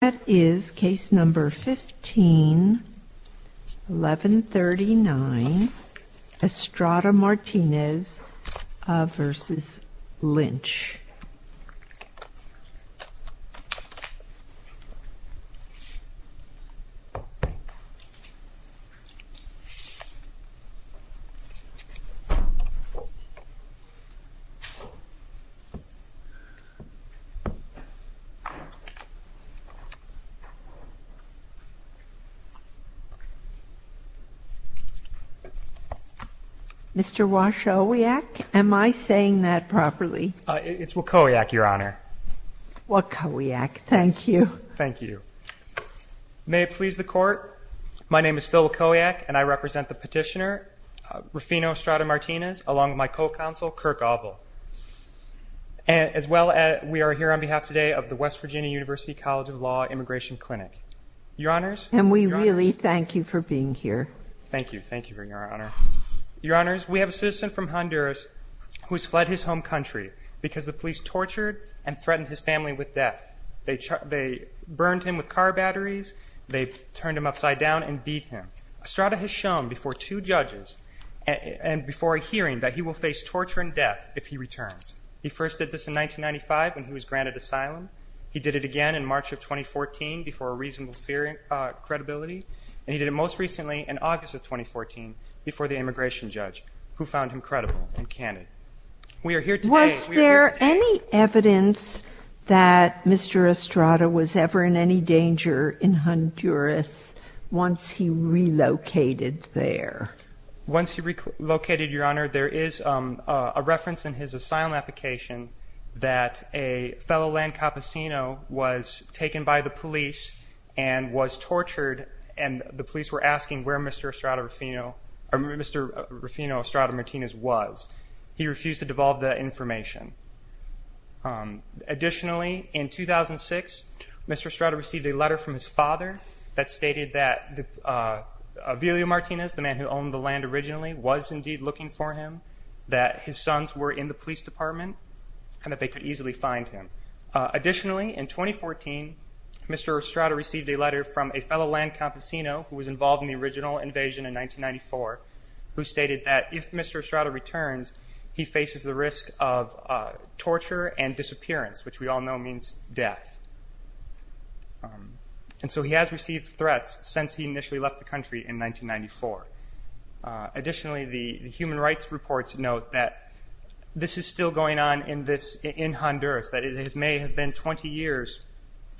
That is case number 15-1139, Estrada-Martinez v. Lynch. Mr. Wachowiak, am I saying that properly? It's Wachowiak, Your Honor. Wachowiak, thank you. Thank you. May it please the Court, my name is Phil Wachowiak and I represent the petitioner, Rufino Estrada-Martinez, along with my co-counsel, Kirk Abel. As well, we are here on behalf today of the West Virginia University College of Law Immigration Clinic. Your Honors? And we really thank you for being here. Thank you. Thank you, Your Honor. Your Honors, we have a citizen from Honduras who has fled his home country because the police tortured and threatened his family with death. They burned him with car batteries, they turned him upside down and beat him. Estrada has shown before two judges and before a hearing that he will face torture and death if he returns. He first did this in 1995 when he was granted asylum. He did it again in March of 2014 before a reasonable fear and credibility. And he did it most recently in August of 2014 before the immigration judge, who found him credible and canon. We are here today. Was there any evidence that Mr. Estrada was ever in any danger in Honduras once he relocated there? Once he relocated, Your Honor, there is a reference in his asylum application that a fellow Lancapacino was taken by the police and was tortured and the police were asking where Mr. Estrada-Martinez was. He refused to devolve that information. Additionally, in 2006, Mr. Estrada received a letter from his father that stated that Avilio Martinez, the man who owned the land originally, was indeed looking for him, that his sons were in the police department and that they could easily find him. Additionally, in 2014, Mr. Estrada received a letter from a fellow Lancapacino who was involved in the original invasion in 1994 who stated that if Mr. Estrada returns, he faces the risk of torture and disappearance, which we all know means death. And so he has received threats since he initially left the country in 1994. Additionally, the human rights reports note that this is still going on in Honduras, that it may have been 20 years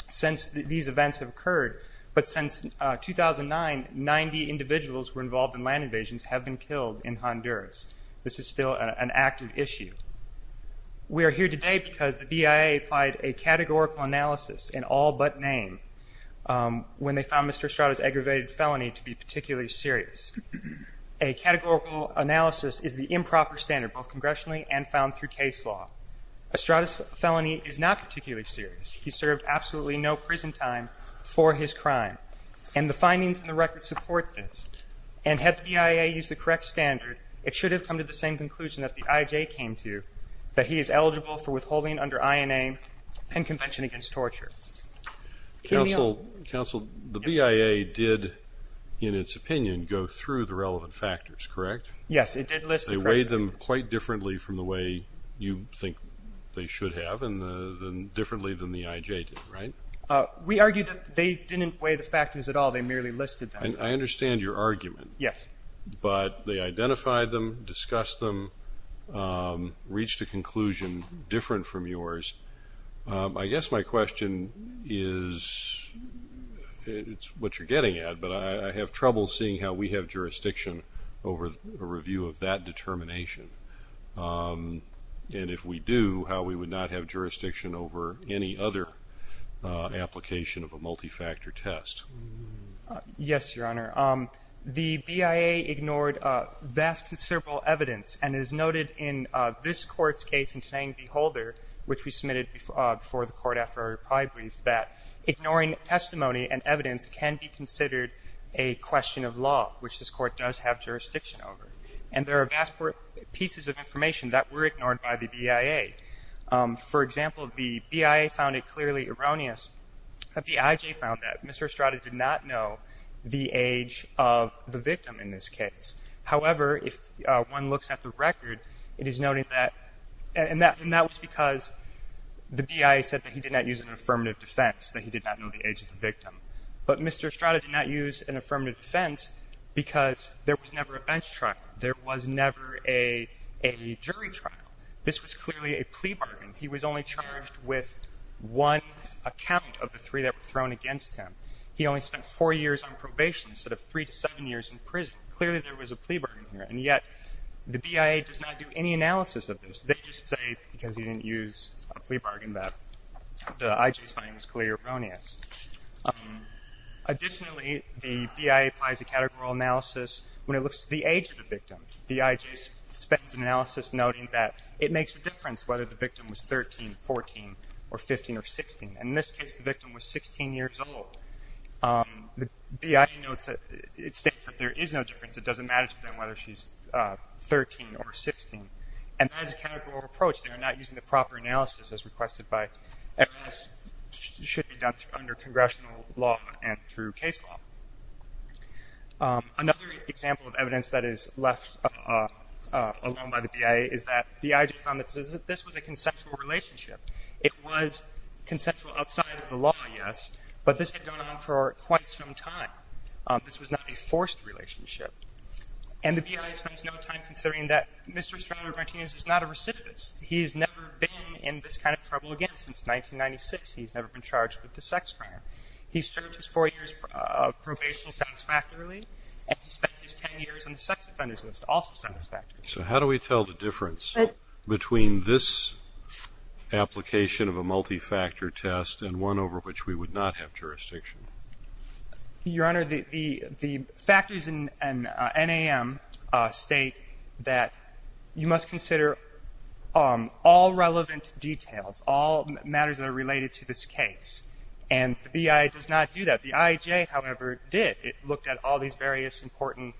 since these events have occurred, but since 2009, 90 individuals who were involved in land invasions have been killed in Honduras. This is still an active issue. We are here today because the BIA applied a categorical analysis in all but name when they found Mr. Estrada's aggravated felony to be particularly serious. A categorical analysis is the improper standard, both congressionally and found through case law. Estrada's felony is not particularly serious. He served absolutely no prison time for his crime, and the findings in the record support this. And had the BIA used the correct standard, it should have come to the same conclusion that the IJ came to, that he is eligible for withholding under INA and Convention Against Torture. Counsel, the BIA did, in its opinion, go through the relevant factors, correct? Yes, it did list them. They weighed them quite differently from the way you think they should have and differently than the IJ did, right? We argue that they didn't weigh the factors at all. They merely listed them. I understand your argument. Yes. But they identified them, discussed them, reached a conclusion different from yours. I guess my question is, it's what you're getting at, but I have trouble seeing how we have jurisdiction over a review of that determination, and if we do, how we would not have jurisdiction over any other application of a multi-factor test. Yes, Your Honor. The BIA ignored vast and several evidence, and it is noted in this Court's case in today's Beholder, which we submitted before the Court after our reply brief, that ignoring testimony and evidence can be considered a question of law, which this Court does have jurisdiction over. And there are vast pieces of information that were ignored by the BIA. For example, the BIA found it clearly erroneous that the IJ found that Mr. Estrada did not know the age of the victim in this case. However, if one looks at the record, it is noted that, and that was because the BIA said that he did not use an affirmative defense, that he did not know the age of the victim. But Mr. Estrada did not use an affirmative defense because there was never a bench trial. There was never a jury trial. This was clearly a plea bargain. He was only charged with one account of the three that were thrown against him. He only spent four years on probation instead of three to seven years in prison. Clearly there was a plea bargain here, and yet the BIA does not do any analysis of this. They just say because he didn't use a plea bargain that the IJ's finding was clearly erroneous. Additionally, the BIA applies a categorical analysis when it looks at the age of the victim. The IJ spends an analysis noting that it makes a difference whether the victim was 13, 14, or 15, or 16. In this case, the victim was 16 years old. The BIA notes that it states that there is no difference. It doesn't matter to them whether she's 13 or 16. And that is a categorical approach. They are not using the proper analysis as requested by MS. It should be done under congressional law and through case law. Another example of evidence that is left alone by the BIA is that the IJ found that this was a conceptual relationship. It was conceptual outside of the law, yes, but this had gone on for quite some time. This was not a forced relationship. And the BIA spends no time considering that Mr. Estrada Martinez is not a recidivist. He has never been in this kind of trouble again since 1996. He has never been charged with a sex crime. He served his four years probation satisfactorily, and he spent his ten years on the sex offenders list also satisfactorily. So how do we tell the difference between this application of a multifactor test and one over which we would not have jurisdiction? Your Honor, the factors in NAM state that you must consider all relevant details, all matters that are related to this case. And the BIA does not do that. The IJ, however, did. It looked at all these various important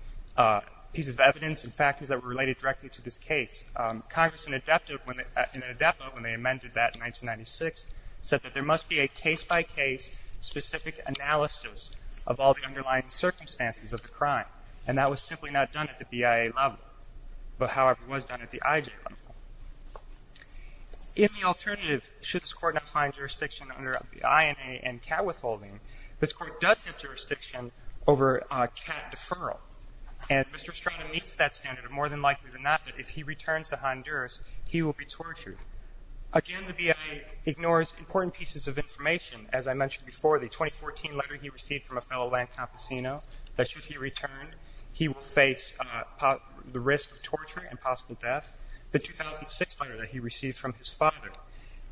pieces of evidence and factors that were related directly to this case. Congress, in an adepto when they amended that in 1996, said that there must be a case-by-case specific analysis of all the underlying circumstances of the crime. And that was simply not done at the BIA level, but, however, was done at the IJ level. In the alternative, should this Court not find jurisdiction under the INA and CAT withholding, this Court does have jurisdiction over CAT deferral. And Mr. Estrada meets that standard. More than likely than not, if he returns to Honduras, he will be tortured. Again, the BIA ignores important pieces of information. As I mentioned before, the 2014 letter he received from a fellow land campesino that should he return, he will face the risk of torture and possible death, the 2006 letter that he received from his father,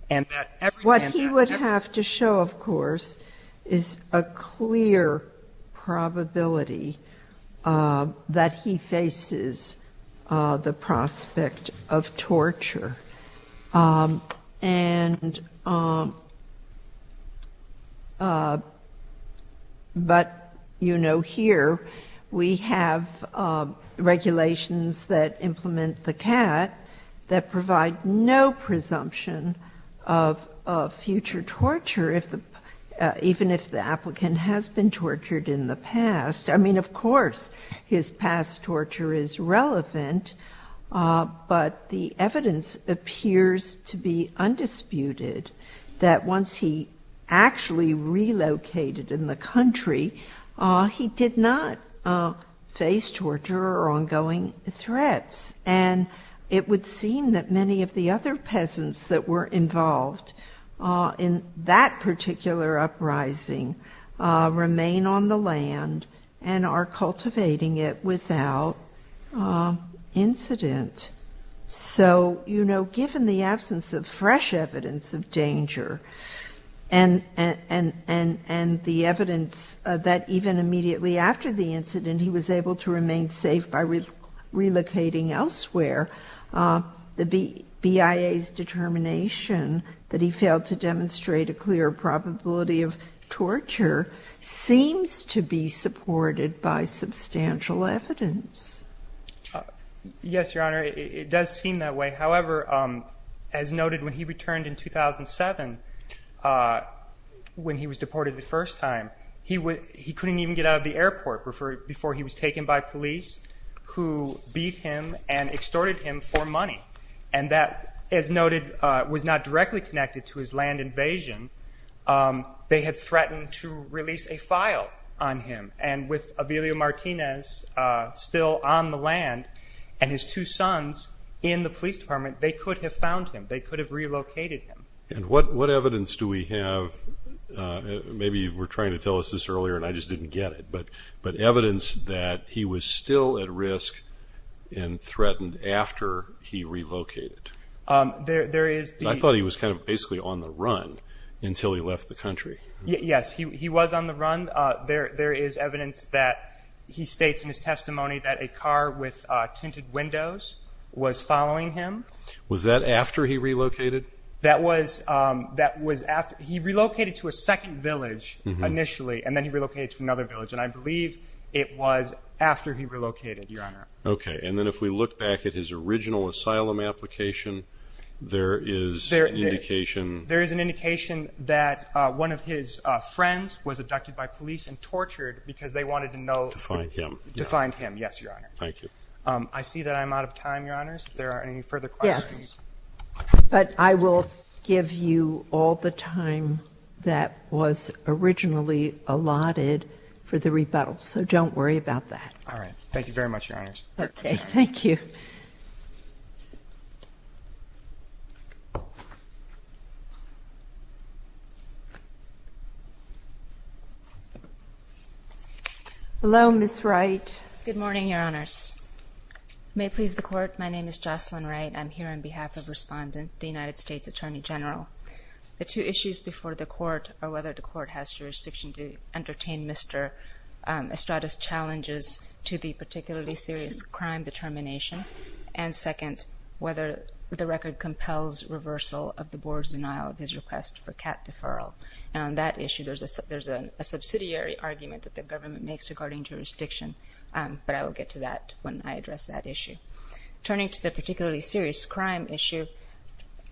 and that every time that happened What we have to show, of course, is a clear probability that he faces the prospect of torture. But, you know, here we have regulations that implement the CAT that provide no presumption of future torture, even if the applicant has been tortured in the past. I mean, of course, his past torture is relevant, but the evidence appears to be undisputed that once he actually relocated in the country, he did not face torture or ongoing threats. And it would seem that many of the other peasants that were involved in that particular uprising remain on the land and are cultivating it without incident. So, you know, given the absence of fresh evidence of danger and he was able to remain safe by relocating elsewhere, the BIA's determination that he failed to demonstrate a clear probability of torture seems to be supported by substantial evidence. Yes, Your Honor, it does seem that way. However, as noted, when he returned in 2007, when he was deported the first time, he couldn't even get out of the airport before he was taken by police who beat him and extorted him for money. And that, as noted, was not directly connected to his land invasion. They had threatened to release a file on him. And with Avelio Martinez still on the land and his two sons in the police department, they could have found him. They could have relocated him. And what evidence do we have? Maybe you were trying to tell us this earlier and I just didn't get it, but evidence that he was still at risk and threatened after he relocated. I thought he was kind of basically on the run until he left the country. Yes, he was on the run. There is evidence that he states in his testimony that a car with tinted windows was following him. Was that after he relocated? He relocated to a second village initially and then he relocated to another village. And I believe it was after he relocated, Your Honor. Okay. And then if we look back at his original asylum application, there is an indication. There is an indication that one of his friends was abducted by police and tortured because they wanted to know to find him. Yes, Your Honor. Thank you. I see that I'm out of time, Your Honors. If there are any further questions. But I will give you all the time that was originally allotted for the rebuttal, so don't worry about that. All right. Thank you very much, Your Honors. Okay. Thank you. Hello, Ms. Wright. Good morning, Your Honors. May it please the Court. My name is Jocelyn Wright. I'm here on behalf of Respondent, the United States Attorney General. The two issues before the Court are whether the Court has jurisdiction to entertain Mr. Estrada's challenges to the particularly serious crime determination, and second, whether the record compels reversal of the Board's denial of his request for CAT deferral. And on that issue, there's a subsidiary argument that the government makes regarding jurisdiction, but I will get to that when I address that issue. Turning to the particularly serious crime issue,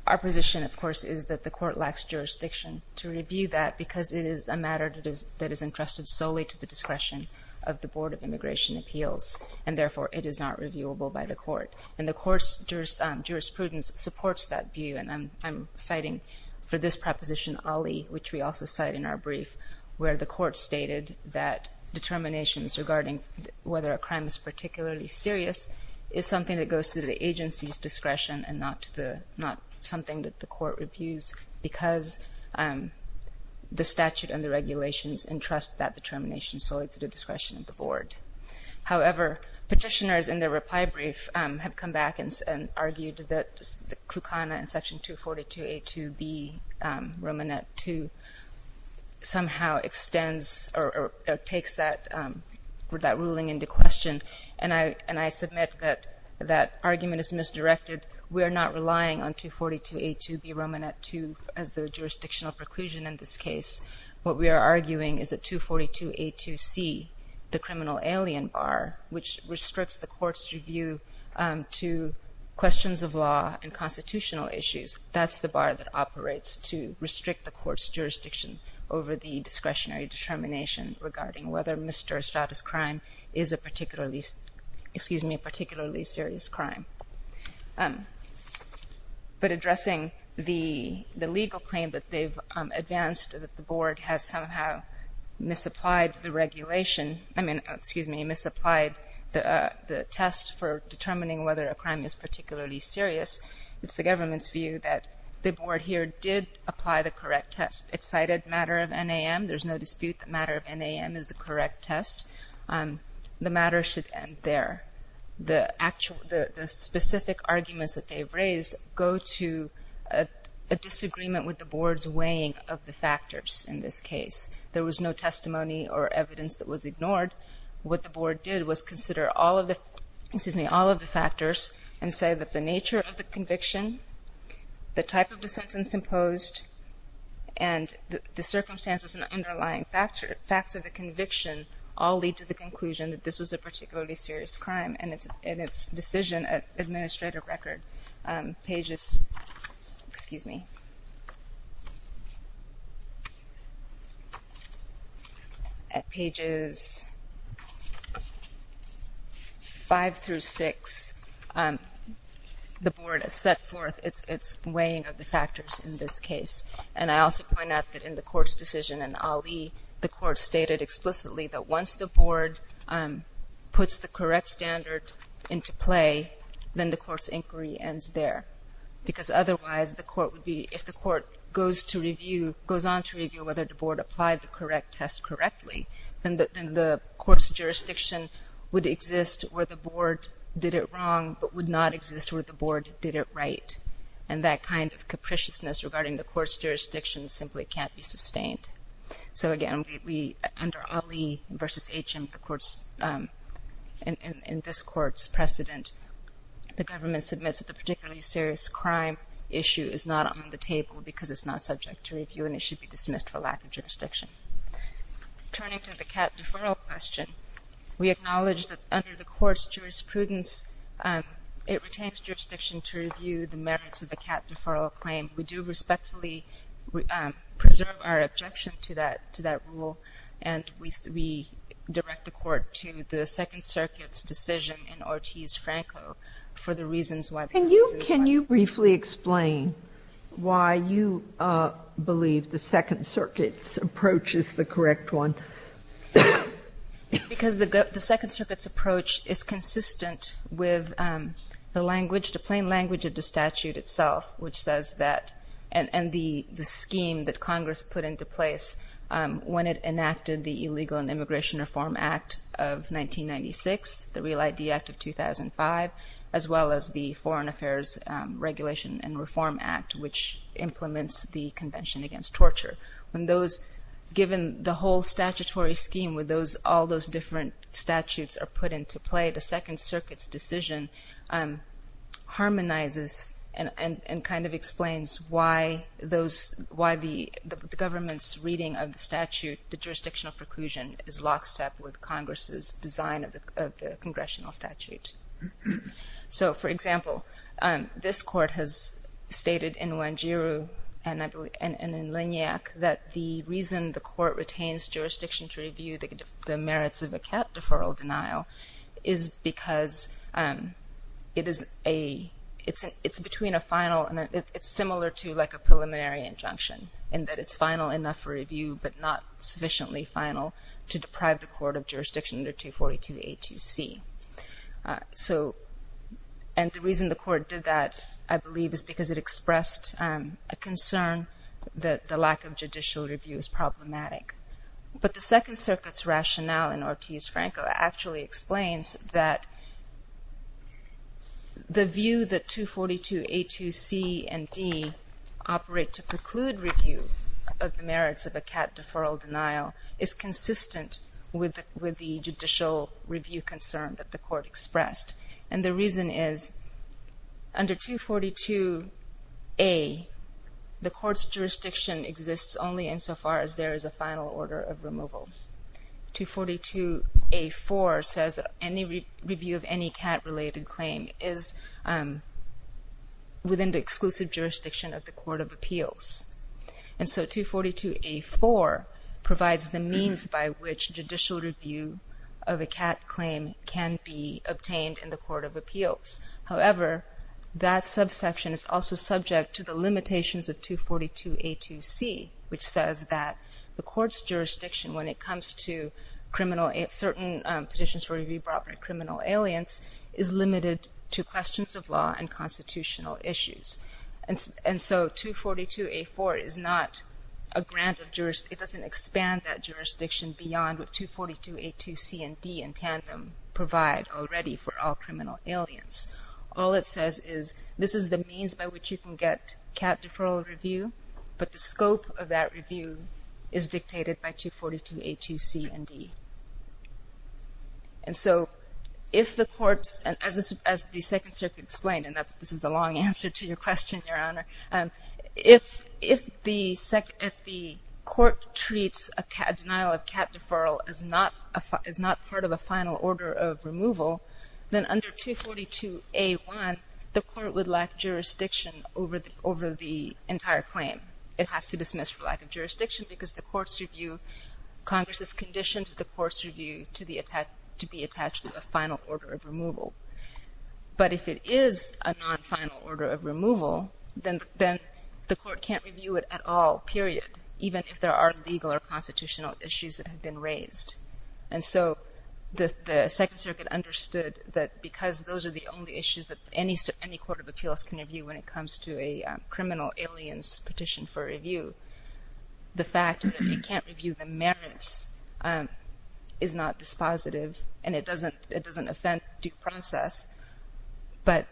our position, of course, is that the Court lacks jurisdiction to review that because it is a matter that is entrusted solely to the discretion of the Board of Immigration Appeals, and therefore it is not reviewable by the Court. And the Court's jurisprudence supports that view, and I'm citing for this proposition Ali, which we also cite in our brief, where the Court stated that determinations regarding whether a crime is particularly serious is something that goes to the agency's discretion and not something that the Court reviews because the statute and the regulations entrust that determination solely to the discretion of the Board. However, petitioners in their reply brief have come back and argued that Krukana in Section 242A2B, Romanet 2, somehow extends or takes that ruling into question, and I submit that that argument is misdirected. We are not relying on 242A2B, Romanet 2, as the jurisdictional preclusion in this case. What we are arguing is that 242A2C, the criminal alien bar, which restricts the Court's review to questions of law and constitutional issues, that's the bar that operates to restrict the Court's jurisdiction over the discretionary determination regarding whether a misdirected status crime is a particularly serious crime. But addressing the legal claim that they've advanced, that the Board has somehow misapplied the regulation, I mean, excuse me, misapplied the test for determining whether a crime is particularly serious, it's the government's view that the Board here did apply the correct test. It cited matter of NAM. There's no dispute that matter of NAM is the correct test. The matter should end there. The specific arguments that they've raised go to a disagreement with the Board's weighing of the factors in this case. There was no testimony or evidence that was ignored. What the Board did was consider all of the factors and say that the nature of the conviction, the type of the sentence imposed, and the circumstances and the underlying facts of the conviction all lead to the conclusion that this was a particularly serious crime, and its decision at Administrative Record, pages, excuse me, at pages 5 through 6, the Board has set forth its weighing of the factors in this case. And I also point out that in the Court's decision in Ali, the Court stated explicitly that once the Board puts the correct standard into play, then the Court's inquiry ends there. Because otherwise, the Court would be, if the Court goes to review, goes on to review whether the Board applied the correct test correctly, then the Court's jurisdiction would exist where the Board did it wrong, but would not exist where the Board did it right. And that kind of capriciousness regarding the Court's jurisdiction simply can't be sustained. So again, under Ali v. HM, the Court's, in this Court's precedent, the government submits that the particularly serious crime issue is not on the table because it's not subject to review, and it should be dismissed for lack of jurisdiction. Turning to the cat deferral question, we acknowledge that under the Court's jurisprudence, it retains jurisdiction to review the merits of the cat deferral claim. We do respectfully preserve our objection to that rule, and we direct the Court to the Second Circuit's decision in Ortiz-Franco for the reasons why. Why do you believe the Second Circuit's approach is the correct one? Because the Second Circuit's approach is consistent with the language, the plain language of the statute itself, which says that, and the scheme that Congress put into place when it enacted the Illegal and Immigration Reform Act of 1996, the Real ID Act of 2005, as well as the Foreign Affairs Regulation and Reform Act, which implements the Convention Against Torture. When those, given the whole statutory scheme with those, all those different statutes are put into play, the Second Circuit's decision harmonizes and kind of explains why those, why the government's reading of the statute, the jurisdictional preclusion, is lockstep with Congress's design of the congressional statute. So, for example, this Court has stated in Wanjiru and in Lignyak that the reason the Court retains jurisdiction to review the merits of a cat deferral denial is because it is a, it's between a final, it's similar to like a preliminary injunction, in that it's final enough for review, but not sufficiently final to deprive the Court of jurisdiction under 242A2C. So, and the reason the Court did that, I believe, is because it expressed a concern that the lack of judicial review is problematic. But the Second Circuit's rationale in Ortiz-Franco actually explains that the view that 242A2C and D operate to preclude review of the merits of a cat deferral denial is consistent with the judicial review concern that the Court expressed. And the reason is, under 242A, the Court's jurisdiction exists only insofar as there is a final order of removal. 242A4 says that any review of any cat-related claim is within the exclusive jurisdiction of the Court of Appeals. And so 242A4 provides the means by which judicial review of a cat claim can be obtained in the Court of Appeals. However, that subsection is also subject to the limitations of 242A2C, which says that the Court's jurisdiction when it comes to certain petitions for review brought by criminal aliens is limited to questions of law and constitutional issues. And so 242A4 is not a grant of jurisdiction. It doesn't expand that jurisdiction beyond what 242A2C and D in tandem provide already for all criminal aliens. All it says is, this is the means by which you can get cat deferral review, but the scope of that review is dictated by 242A2C and D. And so if the Court's, as the Second Circuit explained, and this is a long answer to your question, Your Honor, if the Court treats a denial of cat deferral as not part of a final order of removal, then under 242A1, the Court would lack jurisdiction over the entire claim. It has to dismiss for lack of jurisdiction because the Court's review, Congress has conditioned the Court's review to be attached to a final order of removal. But if it is a non-final order of removal, then the Court can't review it at all, period, even if there are legal or constitutional issues that have been raised. And so the Second Circuit understood that because those are the only issues that any Court of Appeals can review when it comes to a criminal aliens petition for review. The fact that it can't review the merits is not dispositive, and it doesn't offend due process, but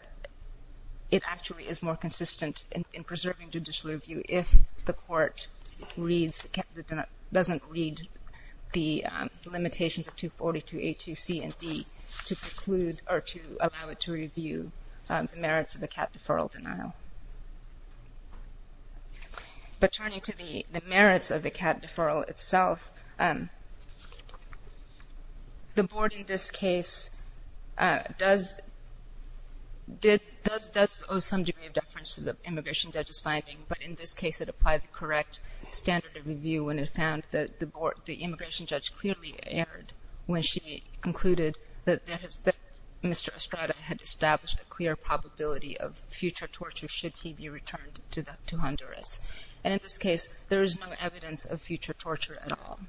it actually is more consistent in preserving judicial review if the Court reads, doesn't read the limitations of 242A2C and D to preclude or to allow it to review the merits of a cat deferral denial. But turning to the merits of the cat deferral itself, the Board in this case does owe some degree of deference to the immigration judge's finding, but in this case it applied the correct standard of review when it found that the immigration judge clearly erred when she concluded that Mr. Estrada had established a clear probability of future torture should he be returned to Honduras. And in this case, there is no evidence of future torture at all.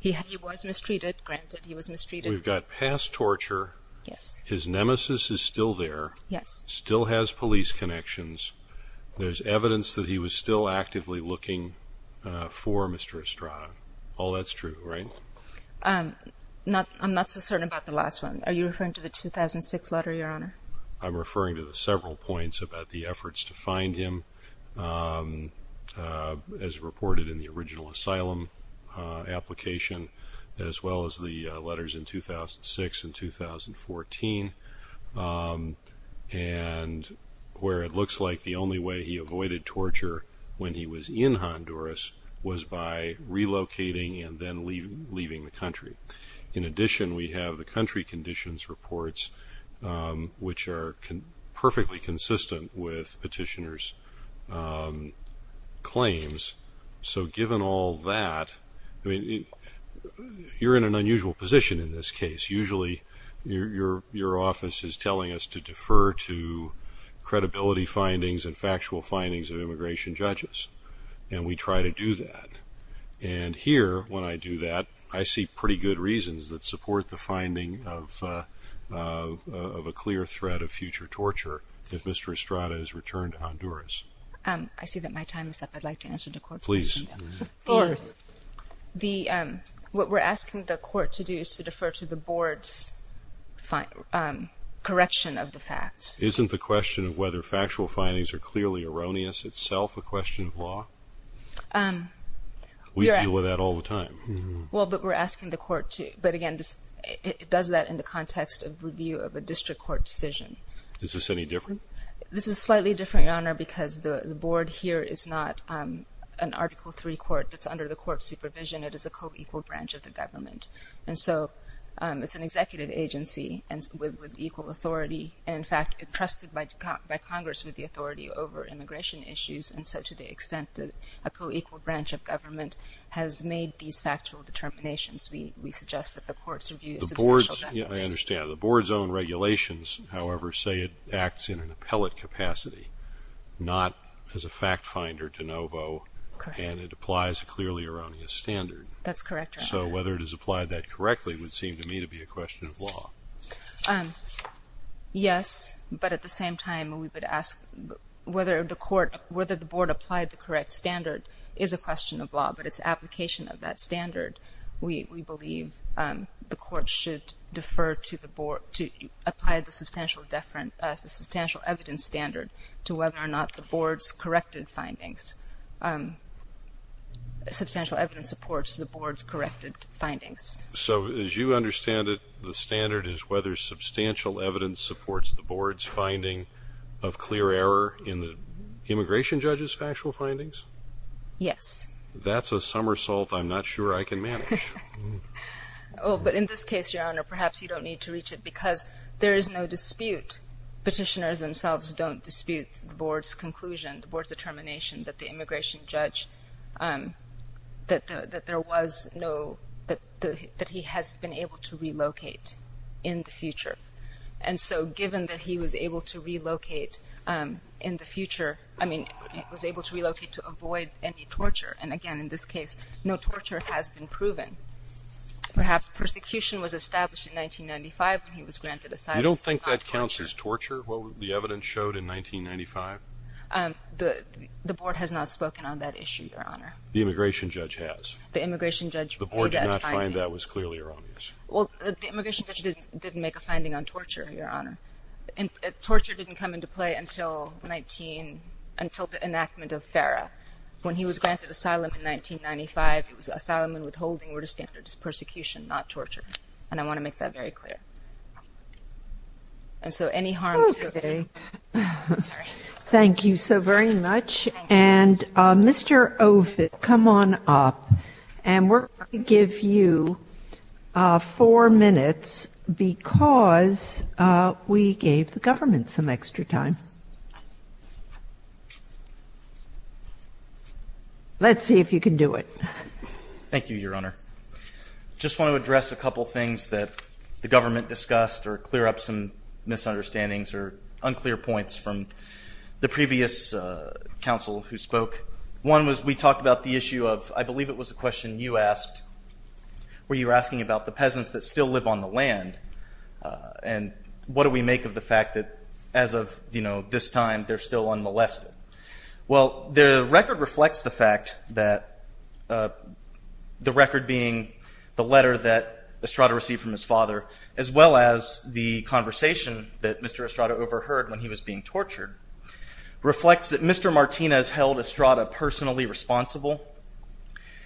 He was mistreated, granted he was mistreated. We've got past torture. Yes. His nemesis is still there. Yes. Still has police connections. There's evidence that he was still actively looking for Mr. Estrada. All that's true, right? I'm not so certain about the last one. Are you referring to the 2006 letter, Your Honor? I'm referring to the several points about the efforts to find him as reported in the original asylum application as well as the letters in 2006 and 2014. And where it looks like the only way he avoided torture when he was in Honduras was by relocating and then leaving the country. In addition, we have the country conditions reports, which are perfectly consistent with petitioners' claims. So given all that, you're in an unusual position in this case. Usually your office is telling us to defer to credibility findings and factual findings of immigration judges, and we try to do that. And here, when I do that, I see pretty good reasons that support the finding of a clear threat of future torture if Mr. Estrada is returned to Honduras. I see that my time is up. I'd like to answer the court's question. Please. Fourth, what we're asking the court to do is to defer to the board's correction of the facts. Isn't the question of whether factual findings are clearly erroneous itself a question of law? We deal with that all the time. Well, but we're asking the court to, but again, it does that in the context of review of a district court decision. Is this any different? This is slightly different, Your Honor, because the board here is not an Article III court that's under the court's supervision. It is a co-equal branch of the government. And so it's an executive agency with equal authority, and, in fact, entrusted by Congress with the authority over immigration issues. And so to the extent that a co-equal branch of government has made these factual determinations, we suggest that the court's review is substantial justice. I understand. The board's own regulations, however, say it acts in an appellate capacity, not as a fact finder de novo, and it applies a clearly erroneous standard. That's correct, Your Honor. So whether it is applied that correctly would seem to me to be a question of law. Yes, but at the same time, we would ask whether the board applied the correct standard is a question of law, but its application of that standard, we believe the court should defer to apply the substantial evidence standard to whether or not the board's corrected findings, substantial evidence supports the board's corrected findings. So as you understand it, the standard is whether substantial evidence supports the board's finding of clear error in the immigration judge's factual findings? Yes. That's a somersault I'm not sure I can manage. Oh, but in this case, Your Honor, perhaps you don't need to reach it, because there is no dispute. Petitioners themselves don't dispute the board's conclusion, the board's determination that the immigration judge, that there was no, that he has been able to relocate in the future. And so given that he was able to relocate in the future, I mean was able to relocate to avoid any torture, and again in this case, no torture has been proven. Perhaps persecution was established in 1995 when he was granted asylum. You don't think that counts as torture, what the evidence showed in 1995? The board has not spoken on that issue, Your Honor. The immigration judge has. The immigration judge made that finding. The board did not find that was clearly erroneous. Well, the immigration judge didn't make a finding on torture, Your Honor. Torture didn't come into play until the enactment of FARA. When he was granted asylum in 1995, it was asylum and withholding were the standards of persecution, not torture. And I want to make that very clear. And so any harm to the city. Thank you so very much. And Mr. Ovid, come on up, and we're going to give you four minutes because we gave the government some extra time. Let's see if you can do it. Thank you, Your Honor. I just want to address a couple things that the government discussed or clear up some misunderstandings or unclear points from the previous counsel who spoke. One was we talked about the issue of I believe it was a question you asked where you were asking about the peasants that still live on the land and what do we make of the fact that as of this time they're still unmolested. Well, the record reflects the fact that the record being the letter that Estrada received from his father as well as the conversation that Mr. Estrada overheard when he was being tortured reflects that Mr. Martinez held Estrada personally responsible.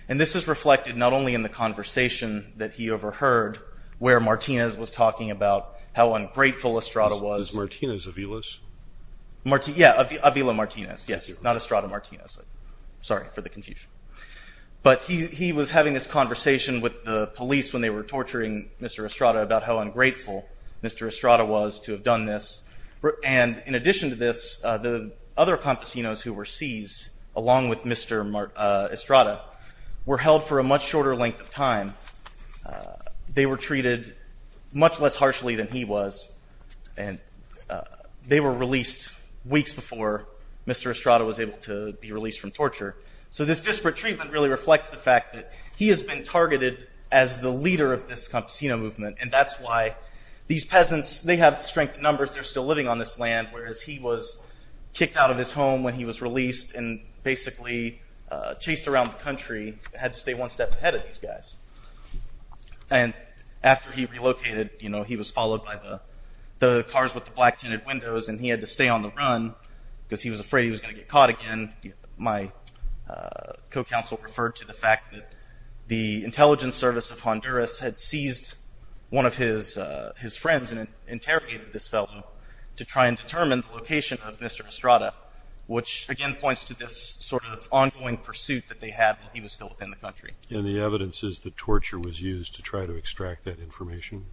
And this is reflected not only in the conversation that he overheard where Martinez was talking about how ungrateful Estrada was. Is Martinez Avila's? Yeah, Avila Martinez, yes, not Estrada Martinez. Sorry for the confusion. But he was having this conversation with the police when they were torturing Mr. Estrada about how ungrateful Mr. Estrada was to have done this. And in addition to this, the other campesinos who were seized along with Mr. Estrada were held for a much shorter length of time. They were treated much less harshly than he was and they were released weeks before Mr. Estrada was able to be released from torture. So this disparate treatment really reflects the fact that he has been targeted as the leader of this campesino movement and that's why these peasants, they have strength in numbers, they're still living on this land, whereas he was kicked out of his home when he was released and basically chased around the country and had to stay one step ahead of these guys. And after he relocated, you know, he was followed by the cars with the black tinted windows and he had to stay on the run because he was afraid he was going to get caught again. My co-counsel referred to the fact that the intelligence service of Honduras had seized one of his friends and interrogated this fellow to try and determine the location of Mr. Estrada, which again points to this sort of ongoing pursuit that they had while he was still within the country. And the evidence is that torture was used to try to extract that information?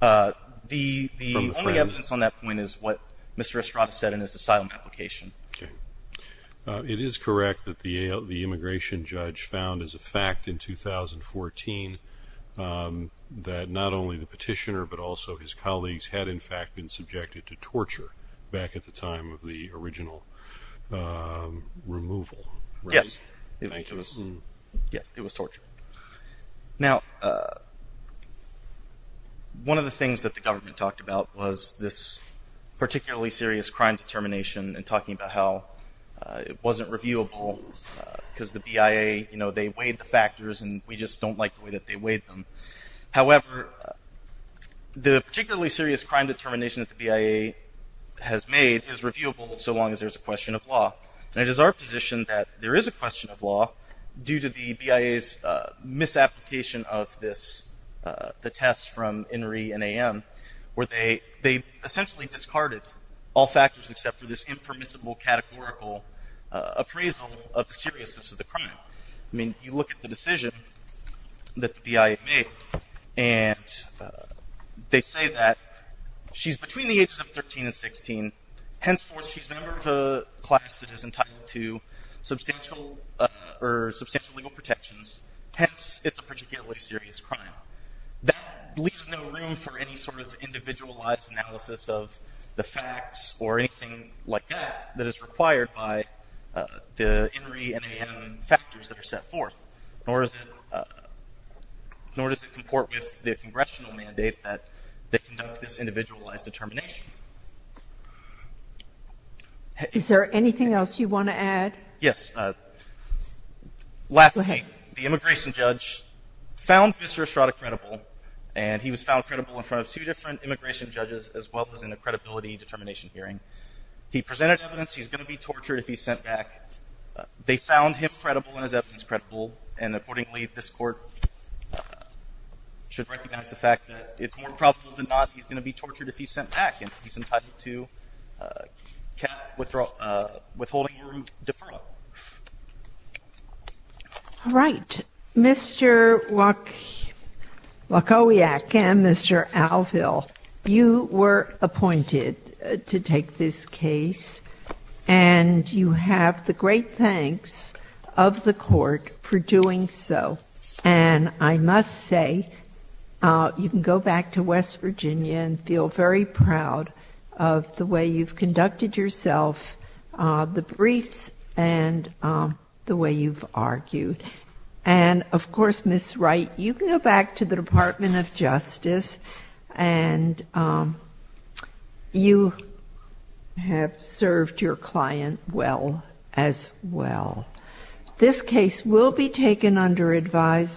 The only evidence on that point is what Mr. Estrada said in his asylum application. Okay. It is correct that the immigration judge found as a fact in 2014 that not only the petitioner but also his colleagues had in fact been subjected to torture back at the time of the original removal, right? Yes. Yes, it was torture. Now, one of the things that the government talked about was this particularly serious crime determination and talking about how it wasn't reviewable because the BIA, you know, they weighed the factors and we just don't like the way that they weighed them. However, the particularly serious crime determination that the BIA has made is reviewable so long as there's a question of law. And it is our position that there is a question of law due to the BIA's misapplication of the test from INRI and AM where they essentially discarded all factors except for this impermissible categorical appraisal of the seriousness of the crime. I mean, you look at the decision that the BIA made and they say that she's between the ages of 13 and 16. Henceforth, she's a member of a class that is entitled to substantial or substantial legal protections. Hence, it's a particularly serious crime. That leaves no room for any sort of individualized analysis of the facts or anything like that that is required by the INRI and AM factors that are set forth, nor does it comport with the congressional mandate that they conduct this individualized determination. Thank you. Is there anything else you want to add? Yes. Lastly, the immigration judge found Mr. Estrada credible and he was found credible in front of two different immigration judges as well as in a credibility determination hearing. He presented evidence he's going to be tortured if he's sent back. They found him credible and his evidence credible. And accordingly, this Court should recognize the fact that it's more probable than not he's going to be tortured if he's sent back. And he's entitled to withholding a room deferral. All right. Mr. Wachowiak and Mr. Alville, you were appointed to take this case, and you have the great thanks of the Court for doing so. And I must say, you can go back to West Virginia and feel very proud of the way you've conducted yourself, the briefs, and the way you've argued. And, of course, Ms. Wright, you can go back to the Department of Justice and you have served your client well as well. This case will be taken under advisement.